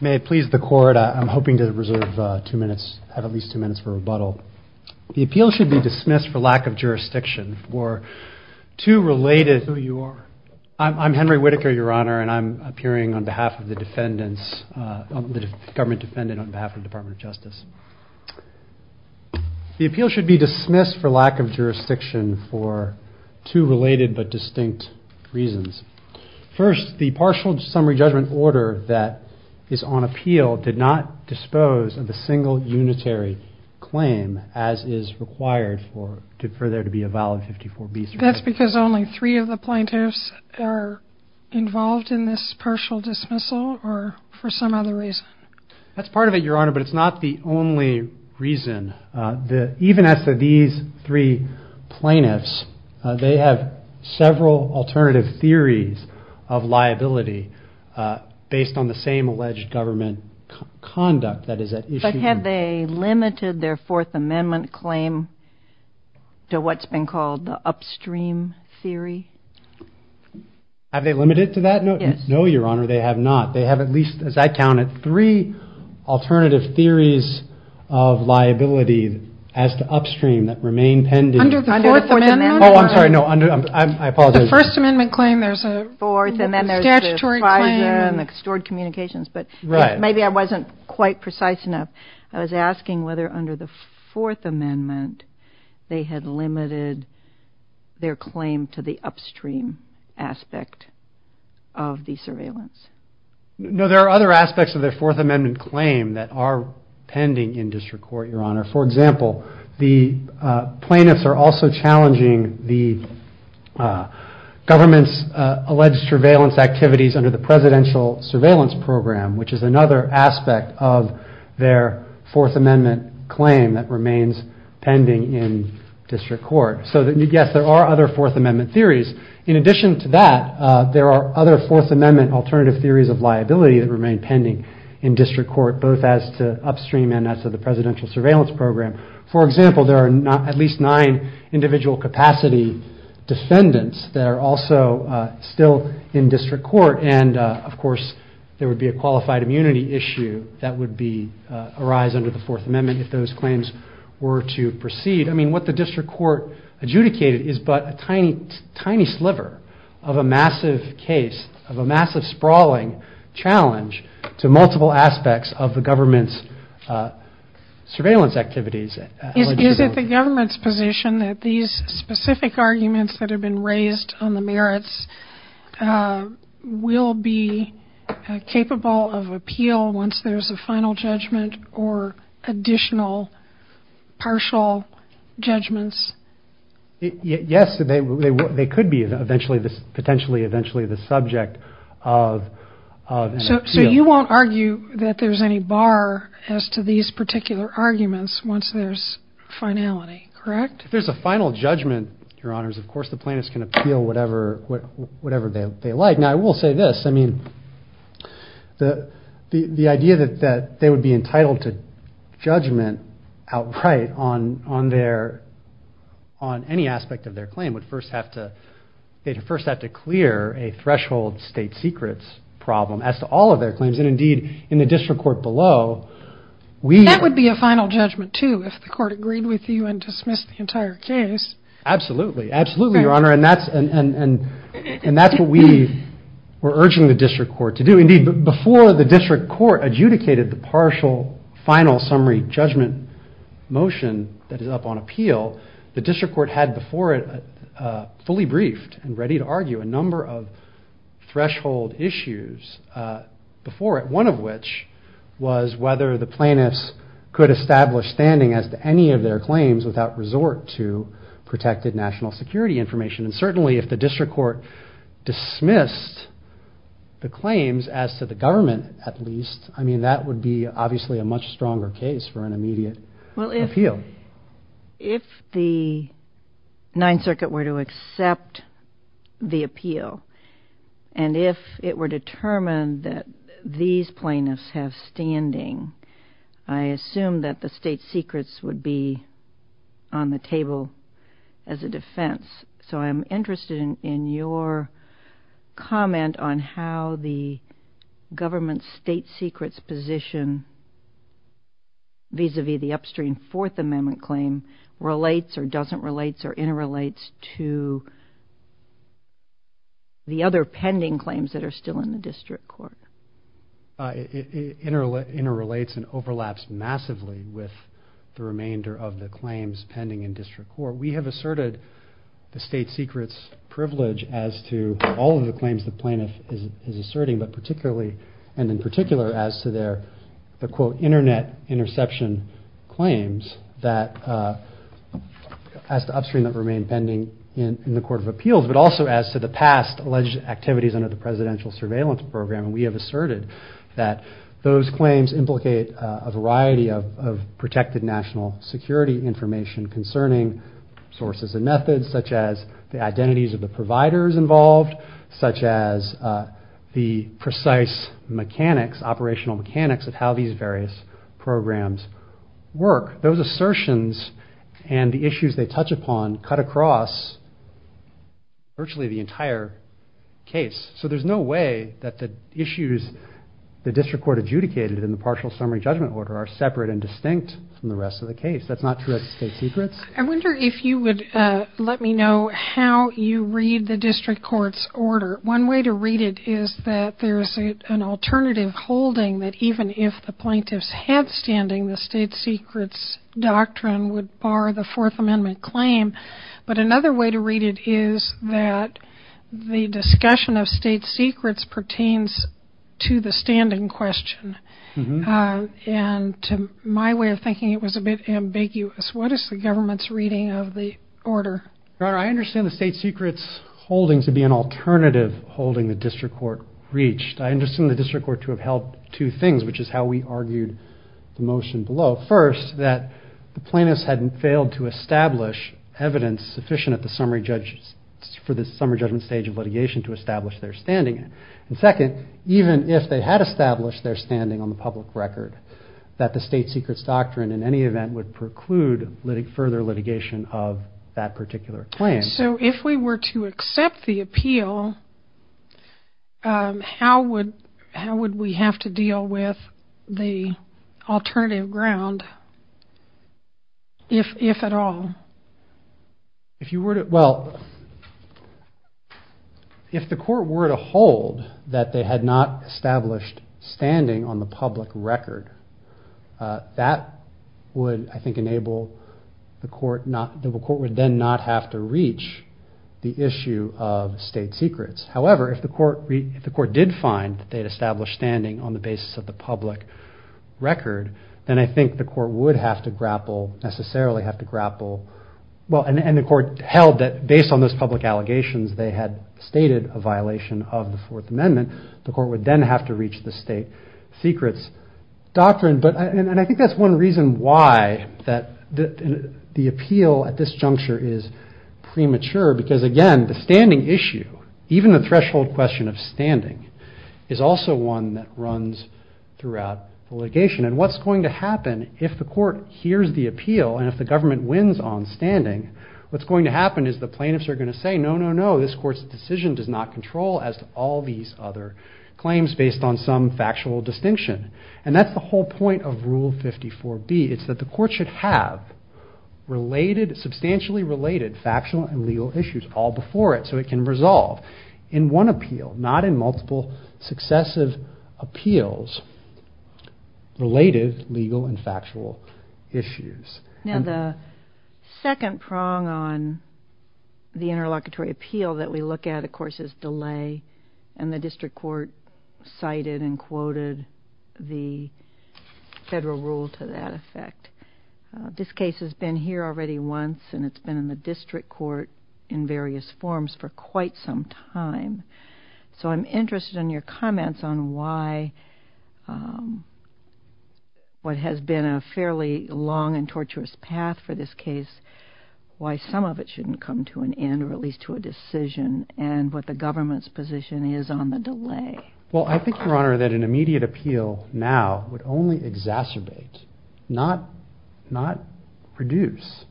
May it please the court, I'm hoping to reserve two minutes, at least two minutes for rebuttal. The appeal should be dismissed for lack of jurisdiction for two related... Who you are? I'm Henry Whitaker, Your Honor, and I'm appearing on behalf of the defendants, the government defendant on behalf of the Department of Justice. The appeal should be dismissed for lack of jurisdiction for two related but distinct reasons. First, the partial summary judgment order that is on appeal did not dispose of a single unitary claim as is required for there to be a valid 54B. That's because only three of the plaintiffs are involved in this partial dismissal or for some other reason? That's part of it, Your Honor, but it's not the only reason. Even as to these three plaintiffs, they have several alternative theories of liability based on the same alleged government conduct that is at issue. But have they limited their Fourth Amendment claim to what's been called the upstream theory? Have they limited it to that? Yes. No, Your Honor, they have not. They have at least, as I counted, three alternative theories of liability as to upstream that remain pending. Under the Fourth Amendment? Oh, I'm sorry, no, I apologize. The First Amendment claim, there's a statutory claim. Fourth, and then there's the FISA and the stored communications. But maybe I wasn't quite precise enough. I was asking whether under the Fourth Amendment they had limited their claim to the upstream aspect of the surveillance. No, there are other aspects of their Fourth Amendment claim that are pending in district court, Your Honor. For example, the plaintiffs are also challenging the government's alleged surveillance activities under the Presidential Surveillance Program, which is another aspect of their Fourth Amendment claim that remains pending in district court. So, yes, there are other Fourth Amendment theories. In addition to that, there are other Fourth Amendment alternative theories of liability that remain pending in district court, both as to upstream and as to the Presidential Surveillance Program. For example, there are at least nine individual capacity defendants that are also still in district court. And, of course, there would be a qualified immunity issue that would arise under the Fourth Amendment if those claims were to proceed. I mean, what the district court adjudicated is but a tiny sliver of a massive case, of a massive sprawling challenge to multiple aspects of the government's surveillance activities. Is it the government's position that these specific arguments that have been raised on the merits will be capable of appeal once there's a final judgment or additional partial judgments? Yes, they could be eventually, potentially, eventually the subject of an appeal. So you won't argue that there's any bar as to these particular arguments once there's finality, correct? If there's a final judgment, Your Honors, of course the plaintiffs can appeal whatever they like. Now, I will say this. I mean, the idea that they would be entitled to judgment outright on any aspect of their claim would first have to clear a threshold state secrets problem as to all of their claims. And, indeed, in the district court below, we… There would be a final judgment, too, if the court agreed with you and dismissed the entire case. Absolutely. Absolutely, Your Honor. And that's what we were urging the district court to do. Indeed, before the district court adjudicated the partial final summary judgment motion that is up on appeal, the district court had before it fully briefed and ready to argue a number of threshold issues before it, which was whether the plaintiffs could establish standing as to any of their claims without resort to protected national security information. And, certainly, if the district court dismissed the claims as to the government, at least, I mean, that would be, obviously, a much stronger case for an immediate appeal. If the Ninth Circuit were to accept the appeal, and if it were determined that these plaintiffs have standing, I assume that the state secrets would be on the table as a defense. So I'm interested in your comment on how the government's state secrets position vis-à-vis the upstream Fourth Amendment claim relates or doesn't relate or interrelates to the other pending claims that are still in the district court. It interrelates and overlaps massively with the remainder of the claims pending in district court. We have asserted the state secrets privilege as to all of the claims the plaintiff is asserting, but particularly and in particular as to their, the quote, internet interception claims that, as to upstream that remain pending in the court of appeals, but also as to the past alleged activities under the presidential surveillance program. And we have asserted that those claims implicate a variety of protected national security information concerning sources and methods such as the identities of the providers involved, such as the precise mechanics, operational mechanics of how these various programs work. Those assertions and the issues they touch upon cut across virtually the entire case. So there's no way that the issues the district court adjudicated in the partial summary judgment order are separate and distinct from the rest of the case. That's not true at state secrets. I wonder if you would let me know how you read the district court's order. One way to read it is that there is an alternative holding that even if the plaintiffs had standing, the state secrets doctrine would bar the Fourth Amendment claim. But another way to read it is that the discussion of state secrets pertains to the standing question. And to my way of thinking, it was a bit ambiguous. What is the government's reading of the order? Your Honor, I understand the state secrets holding to be an alternative holding the district court reached. I understand the district court to have held two things, which is how we argued the motion below. First, that the plaintiffs had failed to establish evidence sufficient at the summary judgment stage of litigation to establish their standing. And second, even if they had established their standing on the public record, that the state secrets doctrine in any event would preclude further litigation of that particular claim. So if we were to accept the appeal, how would we have to deal with the alternative ground, if at all? Well, if the court were to hold that they had not established standing on the public record, that would, I think, enable the court would then not have to reach the issue of state secrets. However, if the court did find that they had established standing on the basis of the public record, then I think the court would have to grapple, necessarily have to grapple, and the court held that based on those public allegations, they had stated a violation of the Fourth Amendment. The court would then have to reach the state secrets doctrine. And I think that's one reason why the appeal at this juncture is premature, because again, the standing issue, even the threshold question of standing, is also one that runs throughout litigation. And what's going to happen if the court hears the appeal, and if the government wins on standing, what's going to happen is the plaintiffs are going to say, no, no, no, this court's decision does not control as to all these other claims based on some factual distinction. And that's the whole point of Rule 54B. It's that the court should have substantially related factual and legal issues all before it, so it can resolve in one appeal, not in multiple successive appeals, related legal and factual issues. Now, the second prong on the interlocutory appeal that we look at, of course, is delay. And the district court cited and quoted the federal rule to that effect. This case has been here already once, and it's been in the district court in various forms for quite some time. So I'm interested in your comments on why what has been a fairly long and torturous path for this case, why some of it shouldn't come to an end, or at least to a decision, and what the government's position is on the delay. Well, I think, Your Honor, that an immediate appeal now would only exacerbate, not reduce,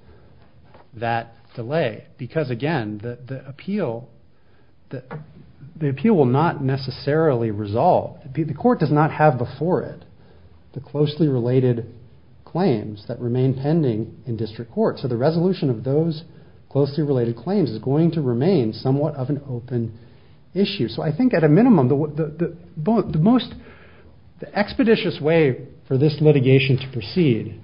that delay. Because, again, the appeal will not necessarily resolve. The court does not have before it the closely related claims that remain pending in district court. So the resolution of those closely related claims is going to remain somewhat of an open issue. So I think, at a minimum, the most expeditious way for this litigation to proceed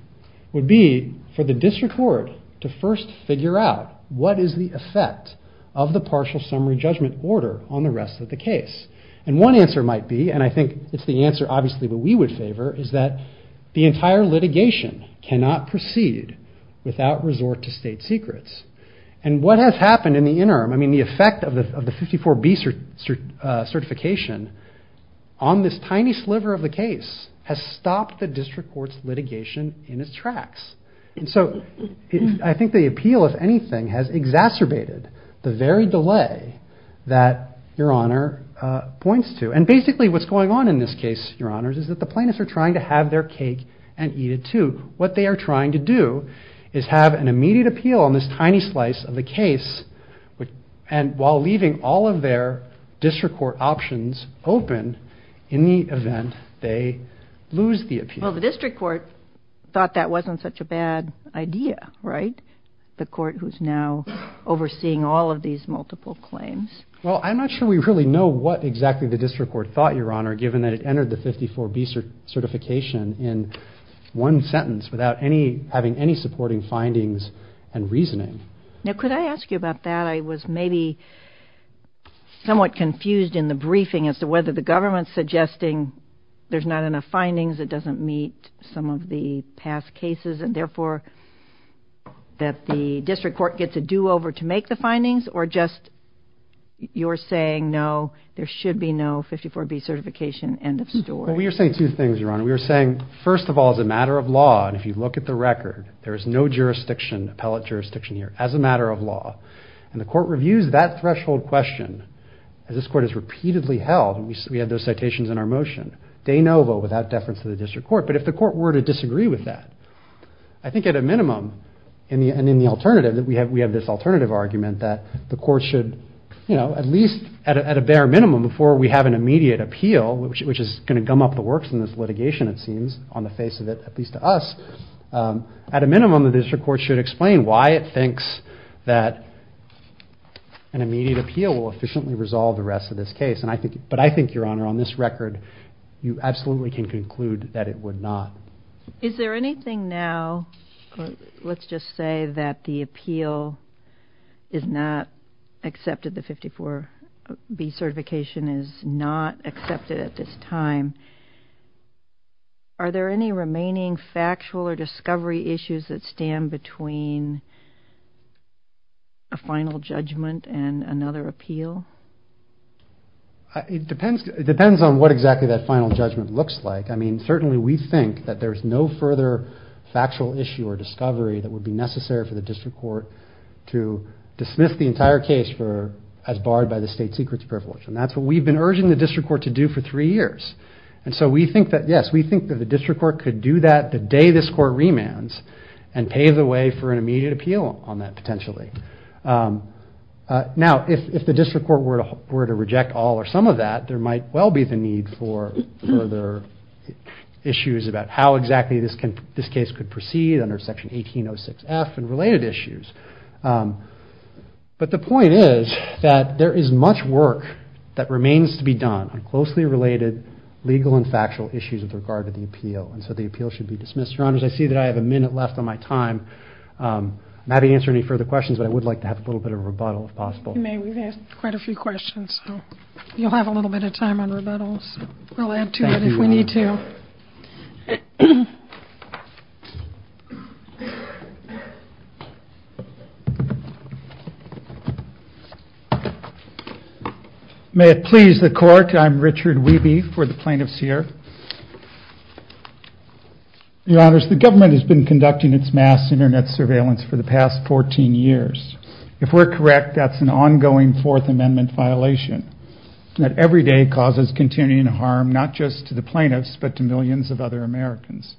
would be for the district court to first figure out what is the effect of the partial summary judgment order on the rest of the case. And one answer might be, and I think it's the answer obviously that we would favor, is that the entire litigation cannot proceed without resort to state secrets. And what has happened in the interim, I mean, the effect of the 54B certification on this tiny sliver of the case has stopped the district court's litigation in its tracks. And so I think the appeal, if anything, has exacerbated the very delay that Your Honor points to. And basically what's going on in this case, Your Honors, is that the plaintiffs are trying to have their cake and eat it too. What they are trying to do is have an immediate appeal on this tiny slice of the case, and while leaving all of their district court options open in the event they lose the appeal. Well, the district court thought that wasn't such a bad idea, right? The court who's now overseeing all of these multiple claims. Well, I'm not sure we really know what exactly the district court thought, Your Honor, given that it entered the 54B certification in one sentence without having any supporting findings and reasoning. Now, could I ask you about that? I was maybe somewhat confused in the briefing as to whether the government's suggesting there's not enough findings, it doesn't meet some of the past cases, and therefore that the district court gets a do-over to make the findings, or just you're saying, no, there should be no 54B certification, end of story. Well, we are saying two things, Your Honor. We are saying, first of all, as a matter of law, and if you look at the record, there is no jurisdiction, appellate jurisdiction here, as a matter of law. And the court reviews that threshold question, as this court has repeatedly held, and we have those citations in our motion, de novo, without deference to the district court. But if the court were to disagree with that, I think at a minimum, and in the alternative, we have this alternative argument that the court should, at least at a bare minimum, before we have an immediate appeal, which is going to gum up the works in this litigation, it seems, on the face of it, at least to us, at a minimum, the district court should explain why it thinks that an immediate appeal will efficiently resolve the rest of this case. But I think, Your Honor, on this record, you absolutely can conclude that it would not. Is there anything now, let's just say that the appeal is not accepted, the 54B certification is not accepted at this time, are there any remaining factual or discovery issues that stand between a final judgment and another appeal? It depends on what exactly that final judgment looks like. I mean, certainly we think that there's no further factual issue or discovery that would be necessary for the district court to dismiss the entire case as barred by the state secrets privilege. And that's what we've been urging the district court to do for three years. And so we think that, yes, we think that the district court could do that the day this court remands and pave the way for an immediate appeal on that, potentially. Now, if the district court were to reject all or some of that, there might well be the need for further issues about how exactly this case could proceed under Section 1806F and related issues. But the point is that there is much work that remains to be done on closely related legal and factual issues with regard to the appeal. And so the appeal should be dismissed. Your Honors, I see that I have a minute left on my time. I'm happy to answer any further questions, but I would like to have a little bit of a rebuttal if possible. If you may, we've had quite a few questions, so you'll have a little bit of time on rebuttals. We'll add to that if we need to. May it please the Court, I'm Richard Wiebe for the plaintiffs here. Your Honors, the government has been conducting its mass Internet surveillance for the past 14 years. If we're correct, that's an ongoing Fourth Amendment violation that every day causes continuing harm, not just to the plaintiffs, but to millions of other Americans.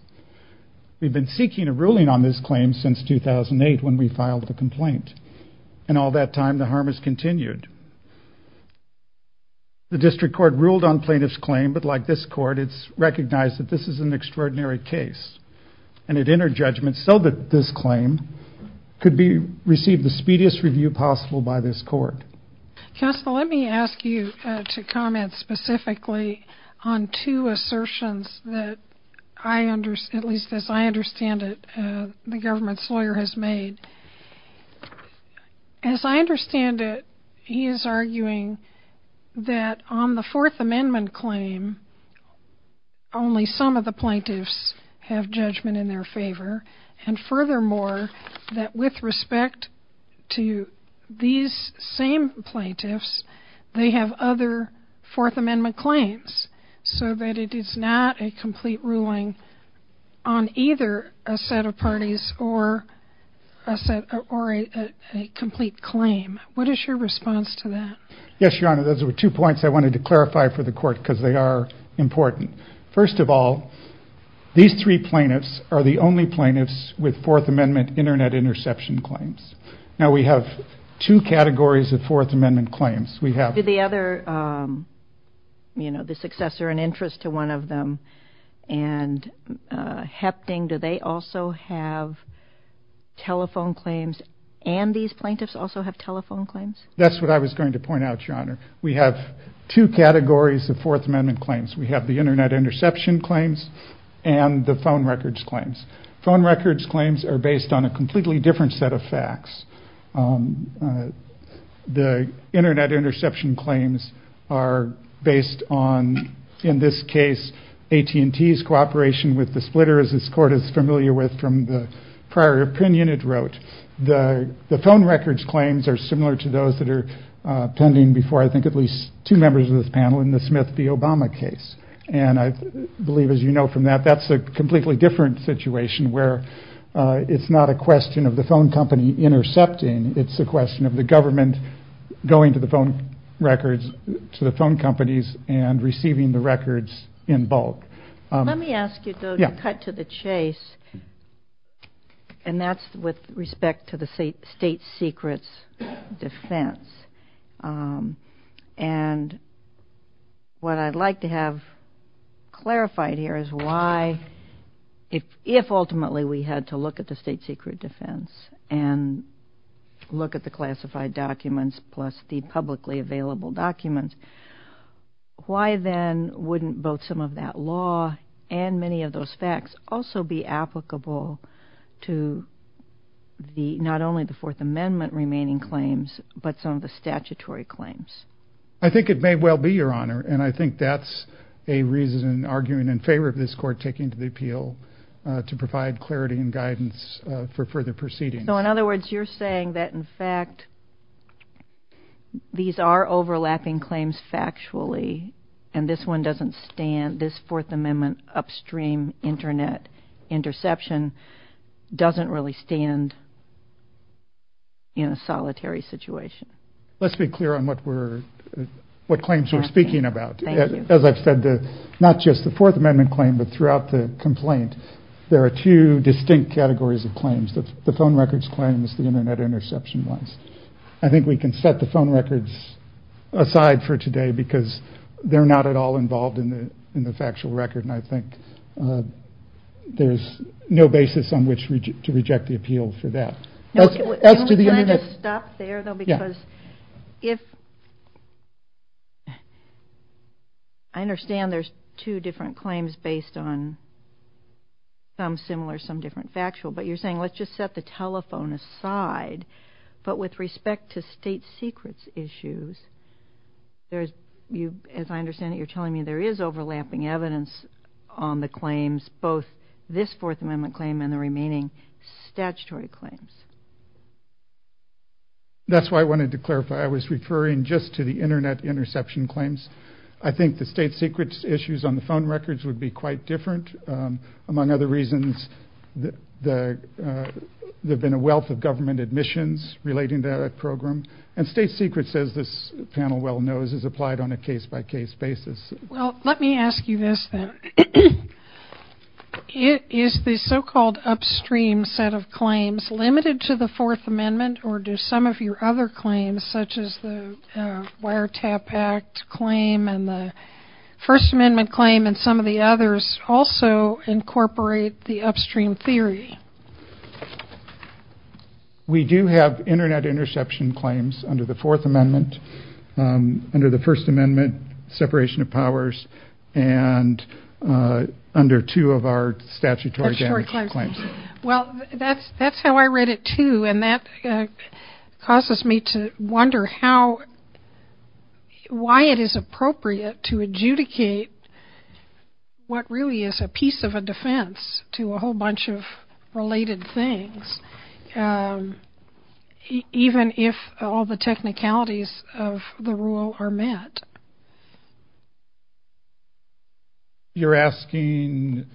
We've been seeking a ruling on this claim since 2008 when we filed the complaint. In all that time, the harm has continued. The district court ruled on plaintiff's claim, but like this court, it's recognized that this is an extraordinary case. It entered judgment so that this claim could receive the speediest review possible by this court. Counsel, let me ask you to comment specifically on two assertions that, at least as I understand it, the government's lawyer has made. As I understand it, he is arguing that on the Fourth Amendment claim, only some of the plaintiffs have judgment in their favor, and furthermore, that with respect to these same plaintiffs, they have other Fourth Amendment claims, so that it is not a complete ruling on either a set of parties or a complete claim. What is your response to that? Yes, Your Honor, those were two points I wanted to clarify for the court because they are important. First of all, these three plaintiffs are the only plaintiffs with Fourth Amendment Internet interception claims. Now, we have two categories of Fourth Amendment claims. We have the other, you know, the successor and interest to one of them, and hefting. Do they also have telephone claims, and these plaintiffs also have telephone claims? That's what I was going to point out, Your Honor. We have two categories of Fourth Amendment claims. We have the Internet interception claims and the phone records claims. Phone records claims are based on a completely different set of facts. The Internet interception claims are based on, in this case, AT&T's cooperation with the splitter, as this court is familiar with from the prior opinion it wrote. The phone records claims are similar to those that are pending before, I think, at least two members of this panel in the Smith v. Obama case. And I believe, as you know from that, that's a completely different situation where it's not a question of the phone company intercepting. It's a question of the government going to the phone records, to the phone companies, and receiving the records in bulk. Let me ask you to cut to the chase, and that's with respect to the state secrets defense. And what I'd like to have clarified here is why, if ultimately we had to look at the state secret defense and look at the classified documents plus the publicly available documents, why then wouldn't both some of that law and many of those facts also be applicable to not only the Fourth Amendment remaining claims, but some of the statutory claims? I think it may well be, Your Honor. And I think that's a reason arguing in favor of this court taking to the appeal to provide clarity and guidance for further proceedings. So, in other words, you're saying that, in fact, these are overlapping claims factually, and this one doesn't stand, this Fourth Amendment upstream Internet interception doesn't really stand in a solitary situation. Let's be clear on what claims we're speaking about. As I've said, not just the Fourth Amendment claim, but throughout the complaint, there are two distinct categories of claims. The phone records claim is the Internet interception rights. I think we can set the phone records aside for today because they're not at all involved in the factual record, and I think there's no basis on which to reject the appeal for that. Can we just stop there, though, because if... I understand there's two different claims based on some similar, some different factual, but you're saying let's just set the telephone aside. But with respect to state secrets issues, as I understand it, you're telling me there is overlapping evidence on the claims, both this Fourth Amendment claim and the remaining statutory claims. That's why I wanted to clarify. I was referring just to the Internet interception claims. I think the state secrets issues on the phone records would be quite different. Among other reasons, there have been a wealth of government admissions relating to that program, and state secrets, as this panel well knows, is applied on a case-by-case basis. Well, let me ask you this, then. Is the so-called upstream set of claims limited to the Fourth Amendment, or do some of your other claims, such as the Wiretap Act claim and the First Amendment claim and some of the others also incorporate the upstream theory? We do have Internet interception claims under the Fourth Amendment. Under the First Amendment, separation of powers, and under two of our statutory claims. Well, that's how I read it, too, and that causes me to wonder why it is appropriate to adjudicate what really is a piece of a defense to a whole bunch of related things, even if all the technicalities of the rule are met. You're asking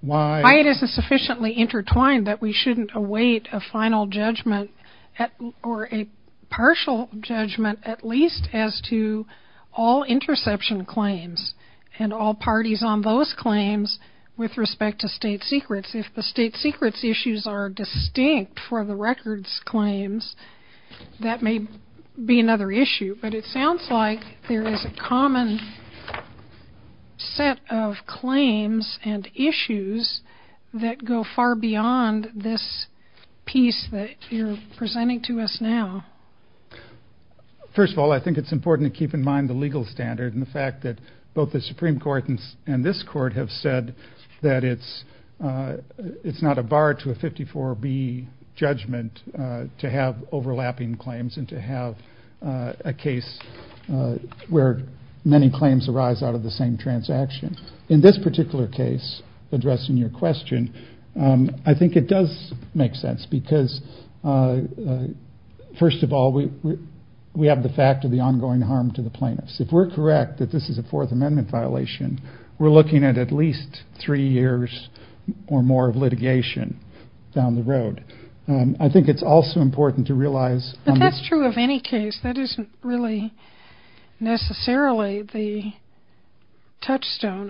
why? Why it is sufficiently intertwined that we shouldn't await a final judgment or a partial judgment, at least as to all interception claims and all parties on those claims with respect to state secrets. If the state secrets issues are distinct for the records claims, that may be another issue, but it sounds like there is a common set of claims and issues that go far beyond this piece that you're presenting to us now. First of all, I think it's important to keep in mind the legal standard and the fact that both the Supreme Court and this Court have said that it's not a bar to a 54B judgment to have overlapping claims and to have a case where many claims arise out of the same transaction. In this particular case, addressing your question, I think it does make sense because, first of all, we have the fact of the ongoing harm to the plaintiffs. If we're correct that this is a Fourth Amendment violation, we're looking at at least three years or more of litigation down the road. I think it's also important to realize... I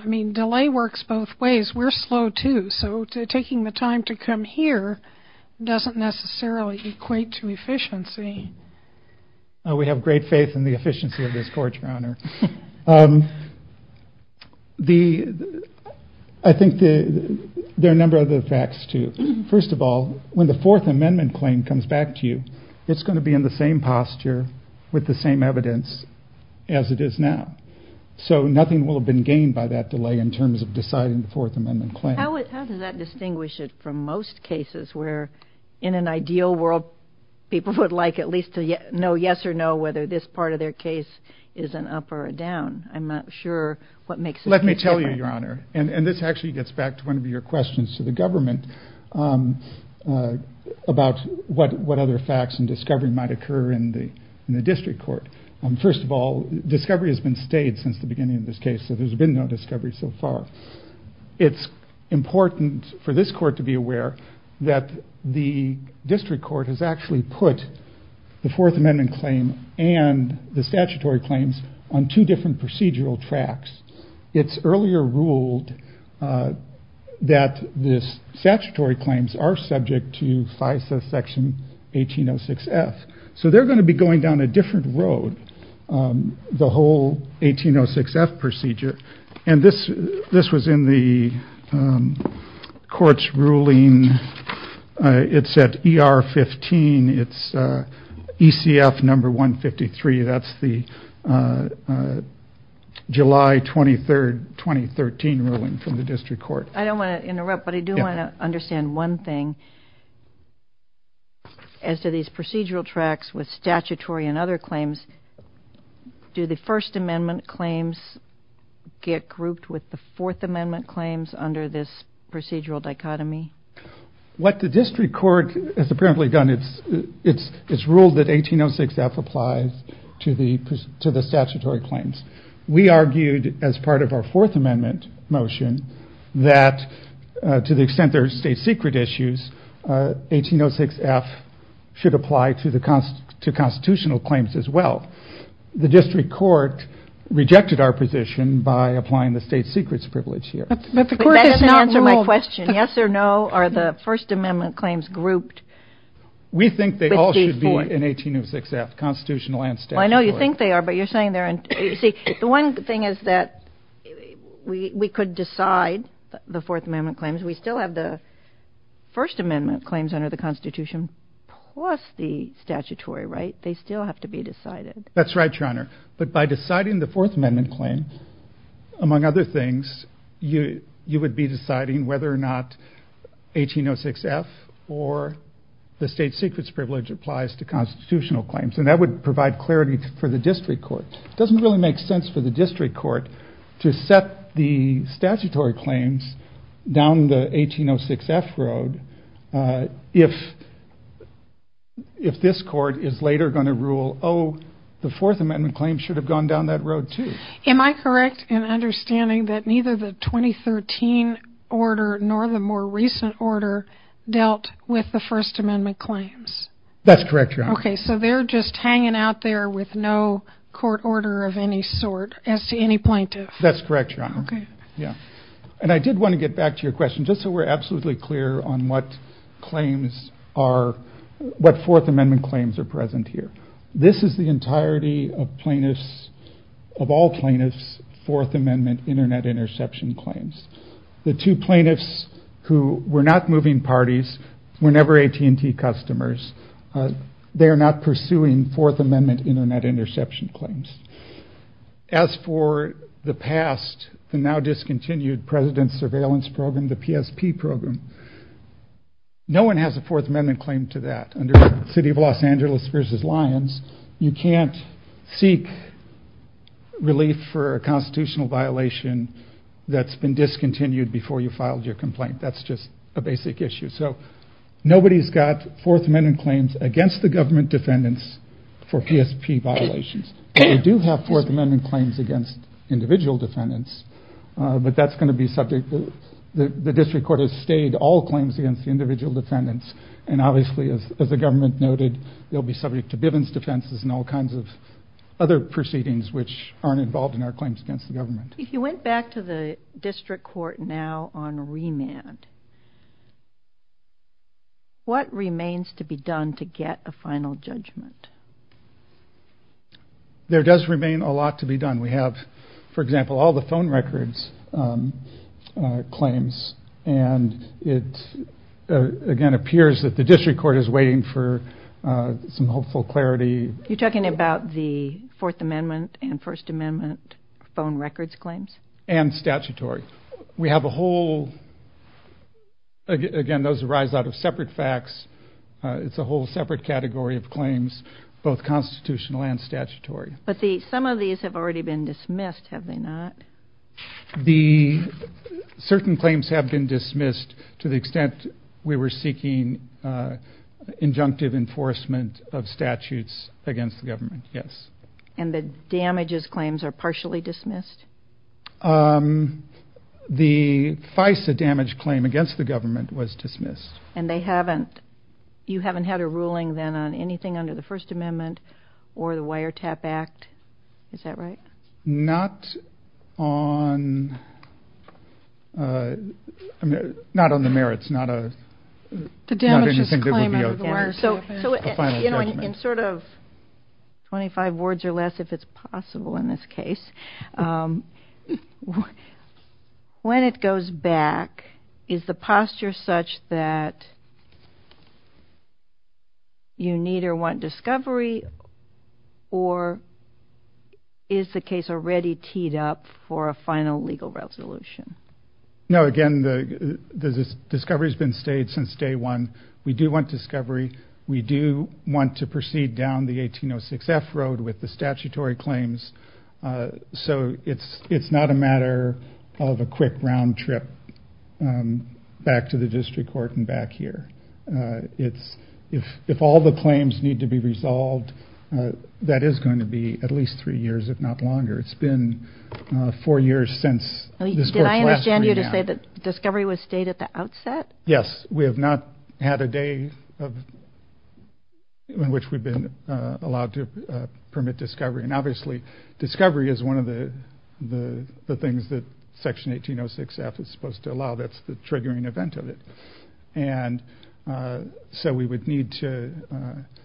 mean, delay works both ways. We're slow, too, so taking the time to come here doesn't necessarily equate to efficiency. We have great faith in the efficiency of this Court, Your Honor. I think there are a number of other facts, too. First of all, when the Fourth Amendment claim comes back to you, it's going to be in the same posture with the same evidence as it is now, so nothing will have been gained by that delay in terms of deciding the Fourth Amendment claim. How does that distinguish it from most cases where, in an ideal world, people would like at least to know yes or no whether this part of their case is an up or a down? I'm not sure what makes a difference. Let me tell you, Your Honor, and this actually gets back to one of your questions to the government, about what other facts and discovery might occur in the District Court. First of all, discovery has been stayed since the beginning of this case, so there's been no discovery so far. It's important for this Court to be aware that the District Court has actually put the Fourth Amendment claim and the statutory claims on two different procedural tracks. It's earlier ruled that the statutory claims are subject to FISA Section 1806F, so they're going to be going down a different road, the whole 1806F procedure, and this was in the Court's ruling. It's at ER 15. It's ECF number 153. That's the July 23, 2013 ruling from the District Court. I don't want to interrupt, but I do want to understand one thing. As to these procedural tracks with statutory and other claims, do the First Amendment claims get grouped with the Fourth Amendment claims under this procedural dichotomy? What the District Court has apparently done, it's ruled that 1806F applies to the statutory claims. We argued as part of our Fourth Amendment motion that to the extent there are state secret issues, 1806F should apply to constitutional claims as well. The District Court rejected our position by applying the state secrets privilege here. But that doesn't answer my question. Yes or no? Are the First Amendment claims grouped? We think they all should be in 1806F, constitutional and statutory. I know you think they are, but you're saying they're in – you see, the one thing is that we could decide the Fourth Amendment claims. We still have the First Amendment claims under the Constitution plus the statutory, right? They still have to be decided. That's right, Your Honor. But by deciding the Fourth Amendment claim, among other things, you would be deciding whether or not 1806F or the state secrets privilege applies to constitutional claims. And that would provide clarity for the District Court. It doesn't really make sense for the District Court to set the statutory claims down the 1806F road if this court is later going to rule, oh, the Fourth Amendment claims should have gone down that road too. Am I correct in understanding that neither the 2013 order nor the more recent order dealt with the First Amendment claims? That's correct, Your Honor. Okay, so they're just hanging out there with no court order of any sort as to any plaintiff. That's correct, Your Honor. Okay. Yeah. And I did want to get back to your question just so we're absolutely clear on what claims are – what Fourth Amendment claims are present here. This is the entirety of plaintiffs – of all plaintiffs' Fourth Amendment Internet interception claims. The two plaintiffs who were not moving parties were never AT&T customers. They are not pursuing Fourth Amendment Internet interception claims. As for the past, the now discontinued President's Surveillance Program, the PSP program, no one has a Fourth Amendment claim to that under the City of Los Angeles v. Lyons. You can't seek relief for a constitutional violation that's been discontinued before you filed your complaint. That's just a basic issue. So nobody's got Fourth Amendment claims against the government defendants for PSP violations. They do have Fourth Amendment claims against individual defendants, but that's going to be subject – the district court has stayed all claims against the individual defendants, and obviously, as the government noted, they'll be subject to Bivens defenses and all kinds of other proceedings which aren't involved in our claims against the government. If you went back to the district court now on remand, what remains to be done to get a final judgment? There does remain a lot to be done. We have, for example, all the phone records claims, and it again appears that the district court is waiting for some hopeful clarity. You're talking about the Fourth Amendment and First Amendment phone records claims? And statutory. We have a whole – again, those arise out of separate facts. It's a whole separate category of claims, both constitutional and statutory. But some of these have already been dismissed, have they not? The – certain claims have been dismissed to the extent we were seeking injunctive enforcement of statutes against the government, yes. And the damages claims are partially dismissed? The FISA damage claim against the government was dismissed. And they haven't – you haven't had a ruling then on anything under the First Amendment or the Wiretap Act, is that right? Not on – I mean, not on the merits, not a – The damages claim on the government. So, you know, in sort of 25 words or less, if it's possible in this case, when it goes back, is the posture such that you need or want discovery, or is the case already teed up for a final legal resolution? No, again, the discovery has been stayed since day one. We do want discovery. We do want to proceed down the 1806 F Road with the statutory claims. So it's not a matter of a quick round trip back to the district court and back here. It's – if all the claims need to be resolved, that is going to be at least three years, if not longer. It's been four years since this court's last hearing. Did I understand you to say that discovery was stayed at the outset? Yes, we have not had a day in which we've been allowed to permit discovery. And obviously discovery is one of the things that Section 1806 F is supposed to allow. That's the triggering event of it. And so we would need to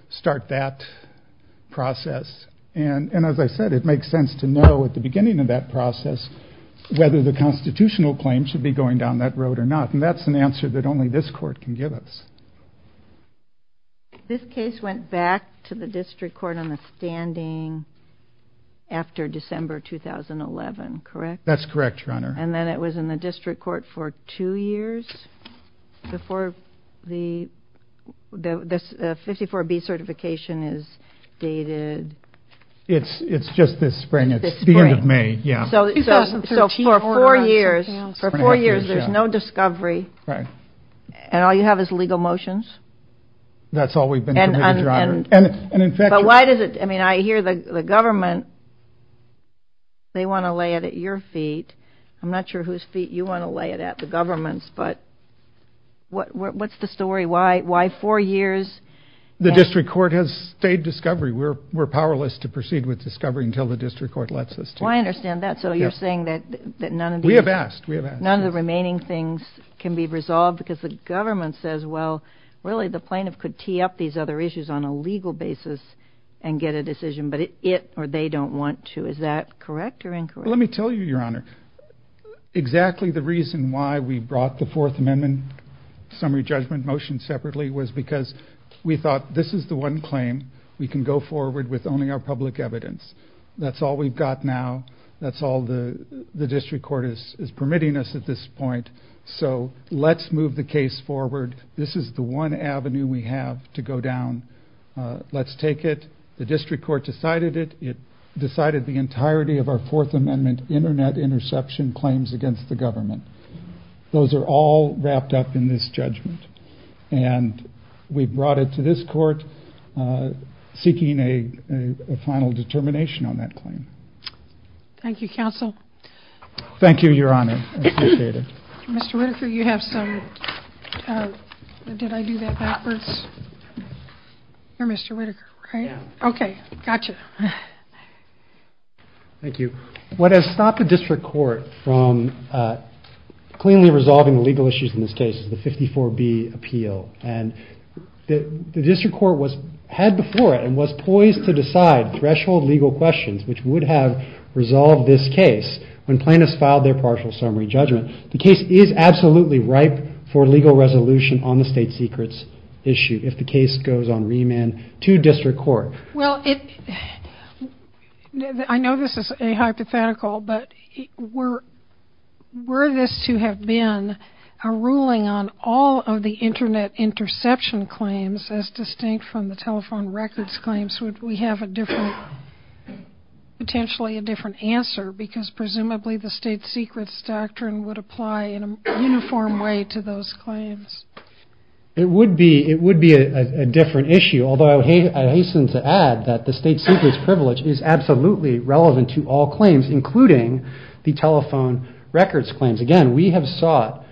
start that process. And as I said, it makes sense to know at the beginning of that process whether the constitutional claim should be going down that road or not. And that's an answer that only this court can give us. This case went back to the district court on the standing after December 2011, correct? That's correct, Your Honor. And then it was in the district court for two years before the 54B certification is dated? It's just this spring. It's the end of May, yeah. So for four years there's no discovery and all you have is legal motions? That's all we've been permitted, Your Honor. But why does it? I mean, I hear the government, they want to lay it at your feet. I'm not sure whose feet you want to lay it at, the government's. But what's the story? Why four years? The district court has stayed discovery. We're powerless to proceed with discovery until the district court lets us to. Well, I understand that. So you're saying that none of the remaining things can be resolved because the government says, well, really the plaintiff could tee up these other issues on a legal basis and get a decision, but it or they don't want to. Is that correct or incorrect? Let me tell you, Your Honor, exactly the reason why we brought the Fourth Amendment summary judgment motion separately was because we thought this is the one claim we can go forward with only our public evidence. That's all we've got now. That's all the district court is permitting us at this point. So let's move the case forward. This is the one avenue we have to go down. Let's take it. The district court decided it. It decided the entirety of our Fourth Amendment Internet interception claims against the government. Those are all wrapped up in this judgment. And we brought it to this court seeking a final determination on that claim. Thank you, counsel. Thank you, Your Honor. I appreciate it. Mr. Whitaker, you have some. Did I do that backwards? You're Mr. Whitaker, right? Okay. Gotcha. Thank you. What has stopped the district court from cleanly resolving the legal issues in this case of the 54B appeal? And the district court was ahead before it and was poised to decide threshold legal questions which would have resolved this case when plaintiffs filed their partial summary judgment. The case is absolutely ripe for legal resolution on the state secrets issue if the case goes on remand to district court. Well, I know this is a hypothetical, but were this to have been a ruling on all of the Internet interception claims as distinct from the telephone records claims, would we have a different, potentially a different answer? Because presumably the state secrets doctrine would apply in a uniform way to those claims. It would be a different issue, although I hasten to add that the state secrets privilege is absolutely relevant to all claims, including the telephone records claims. Again, we have sought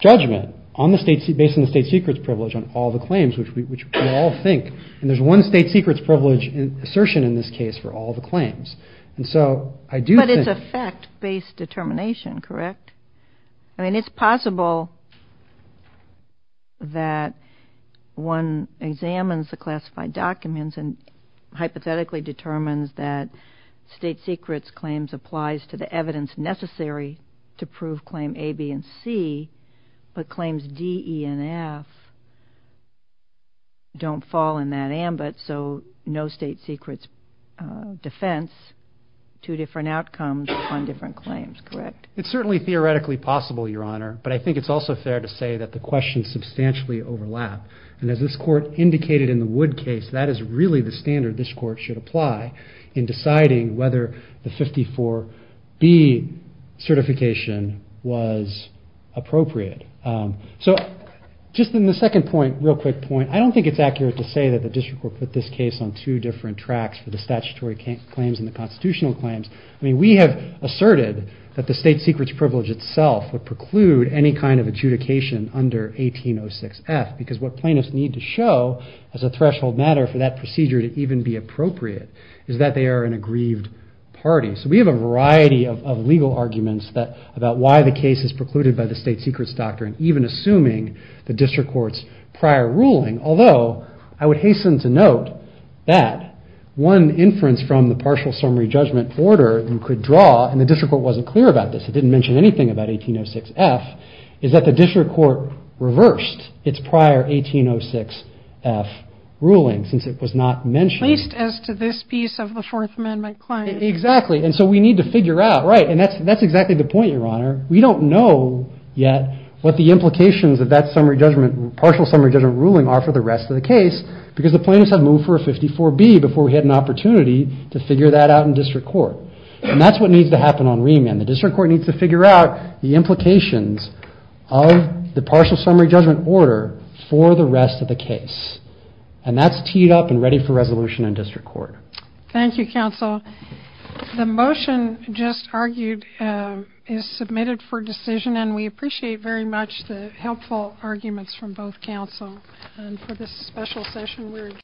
judgment based on the state secrets privilege on all the claims, which we all think. And there's one state secrets privilege assertion in this case for all the claims. But it's a fact-based determination, correct? I mean, it's possible that one examines the classified documents and hypothetically determines that state secrets claims applies to the evidence necessary to prove claim A, B, and C, but claims D, E, and F don't fall in that ambit, so no state secrets defense, two different outcomes on different claims, correct? It's certainly theoretically possible, Your Honor, but I think it's also fair to say that the questions substantially overlap. And as this Court indicated in the Wood case, that is really the standard this Court should apply in deciding whether the 54B certification was appropriate. So just in the second point, real quick point, I don't think it's accurate to say that the district court put this case on two different tracks for the statutory claims and the constitutional claims. I mean, we have asserted that the state secrets privilege itself would preclude any kind of adjudication under 1806F, because what plaintiffs need to show as a threshold matter for that procedure to even be appropriate is that they are an aggrieved party. So we have a variety of legal arguments about why the case is precluded by the state secrets doctrine, even assuming the district court's prior ruling, although I would hasten to note that one inference from the partial summary judgment order you could draw, and the district court wasn't clear about this, it didn't mention anything about 1806F, is that the district court reversed its prior 1806F ruling since it was not mentioned. At least as to this piece of the Fourth Amendment claim. Exactly. And so we need to figure out, right, and that's exactly the point, Your Honor. We don't know yet what the implications of that summary judgment, partial summary judgment ruling are for the rest of the case, because the plaintiffs have moved for a 54B before we had an opportunity to figure that out in district court. And that's what needs to happen on remand. The district court needs to figure out the implications of the partial summary judgment order for the rest of the case. And that's teed up and ready for resolution in district court. Thank you, counsel. The motion just argued is submitted for decision, and we appreciate very much the helpful arguments from both counsel. And for this special session, we're adjourned.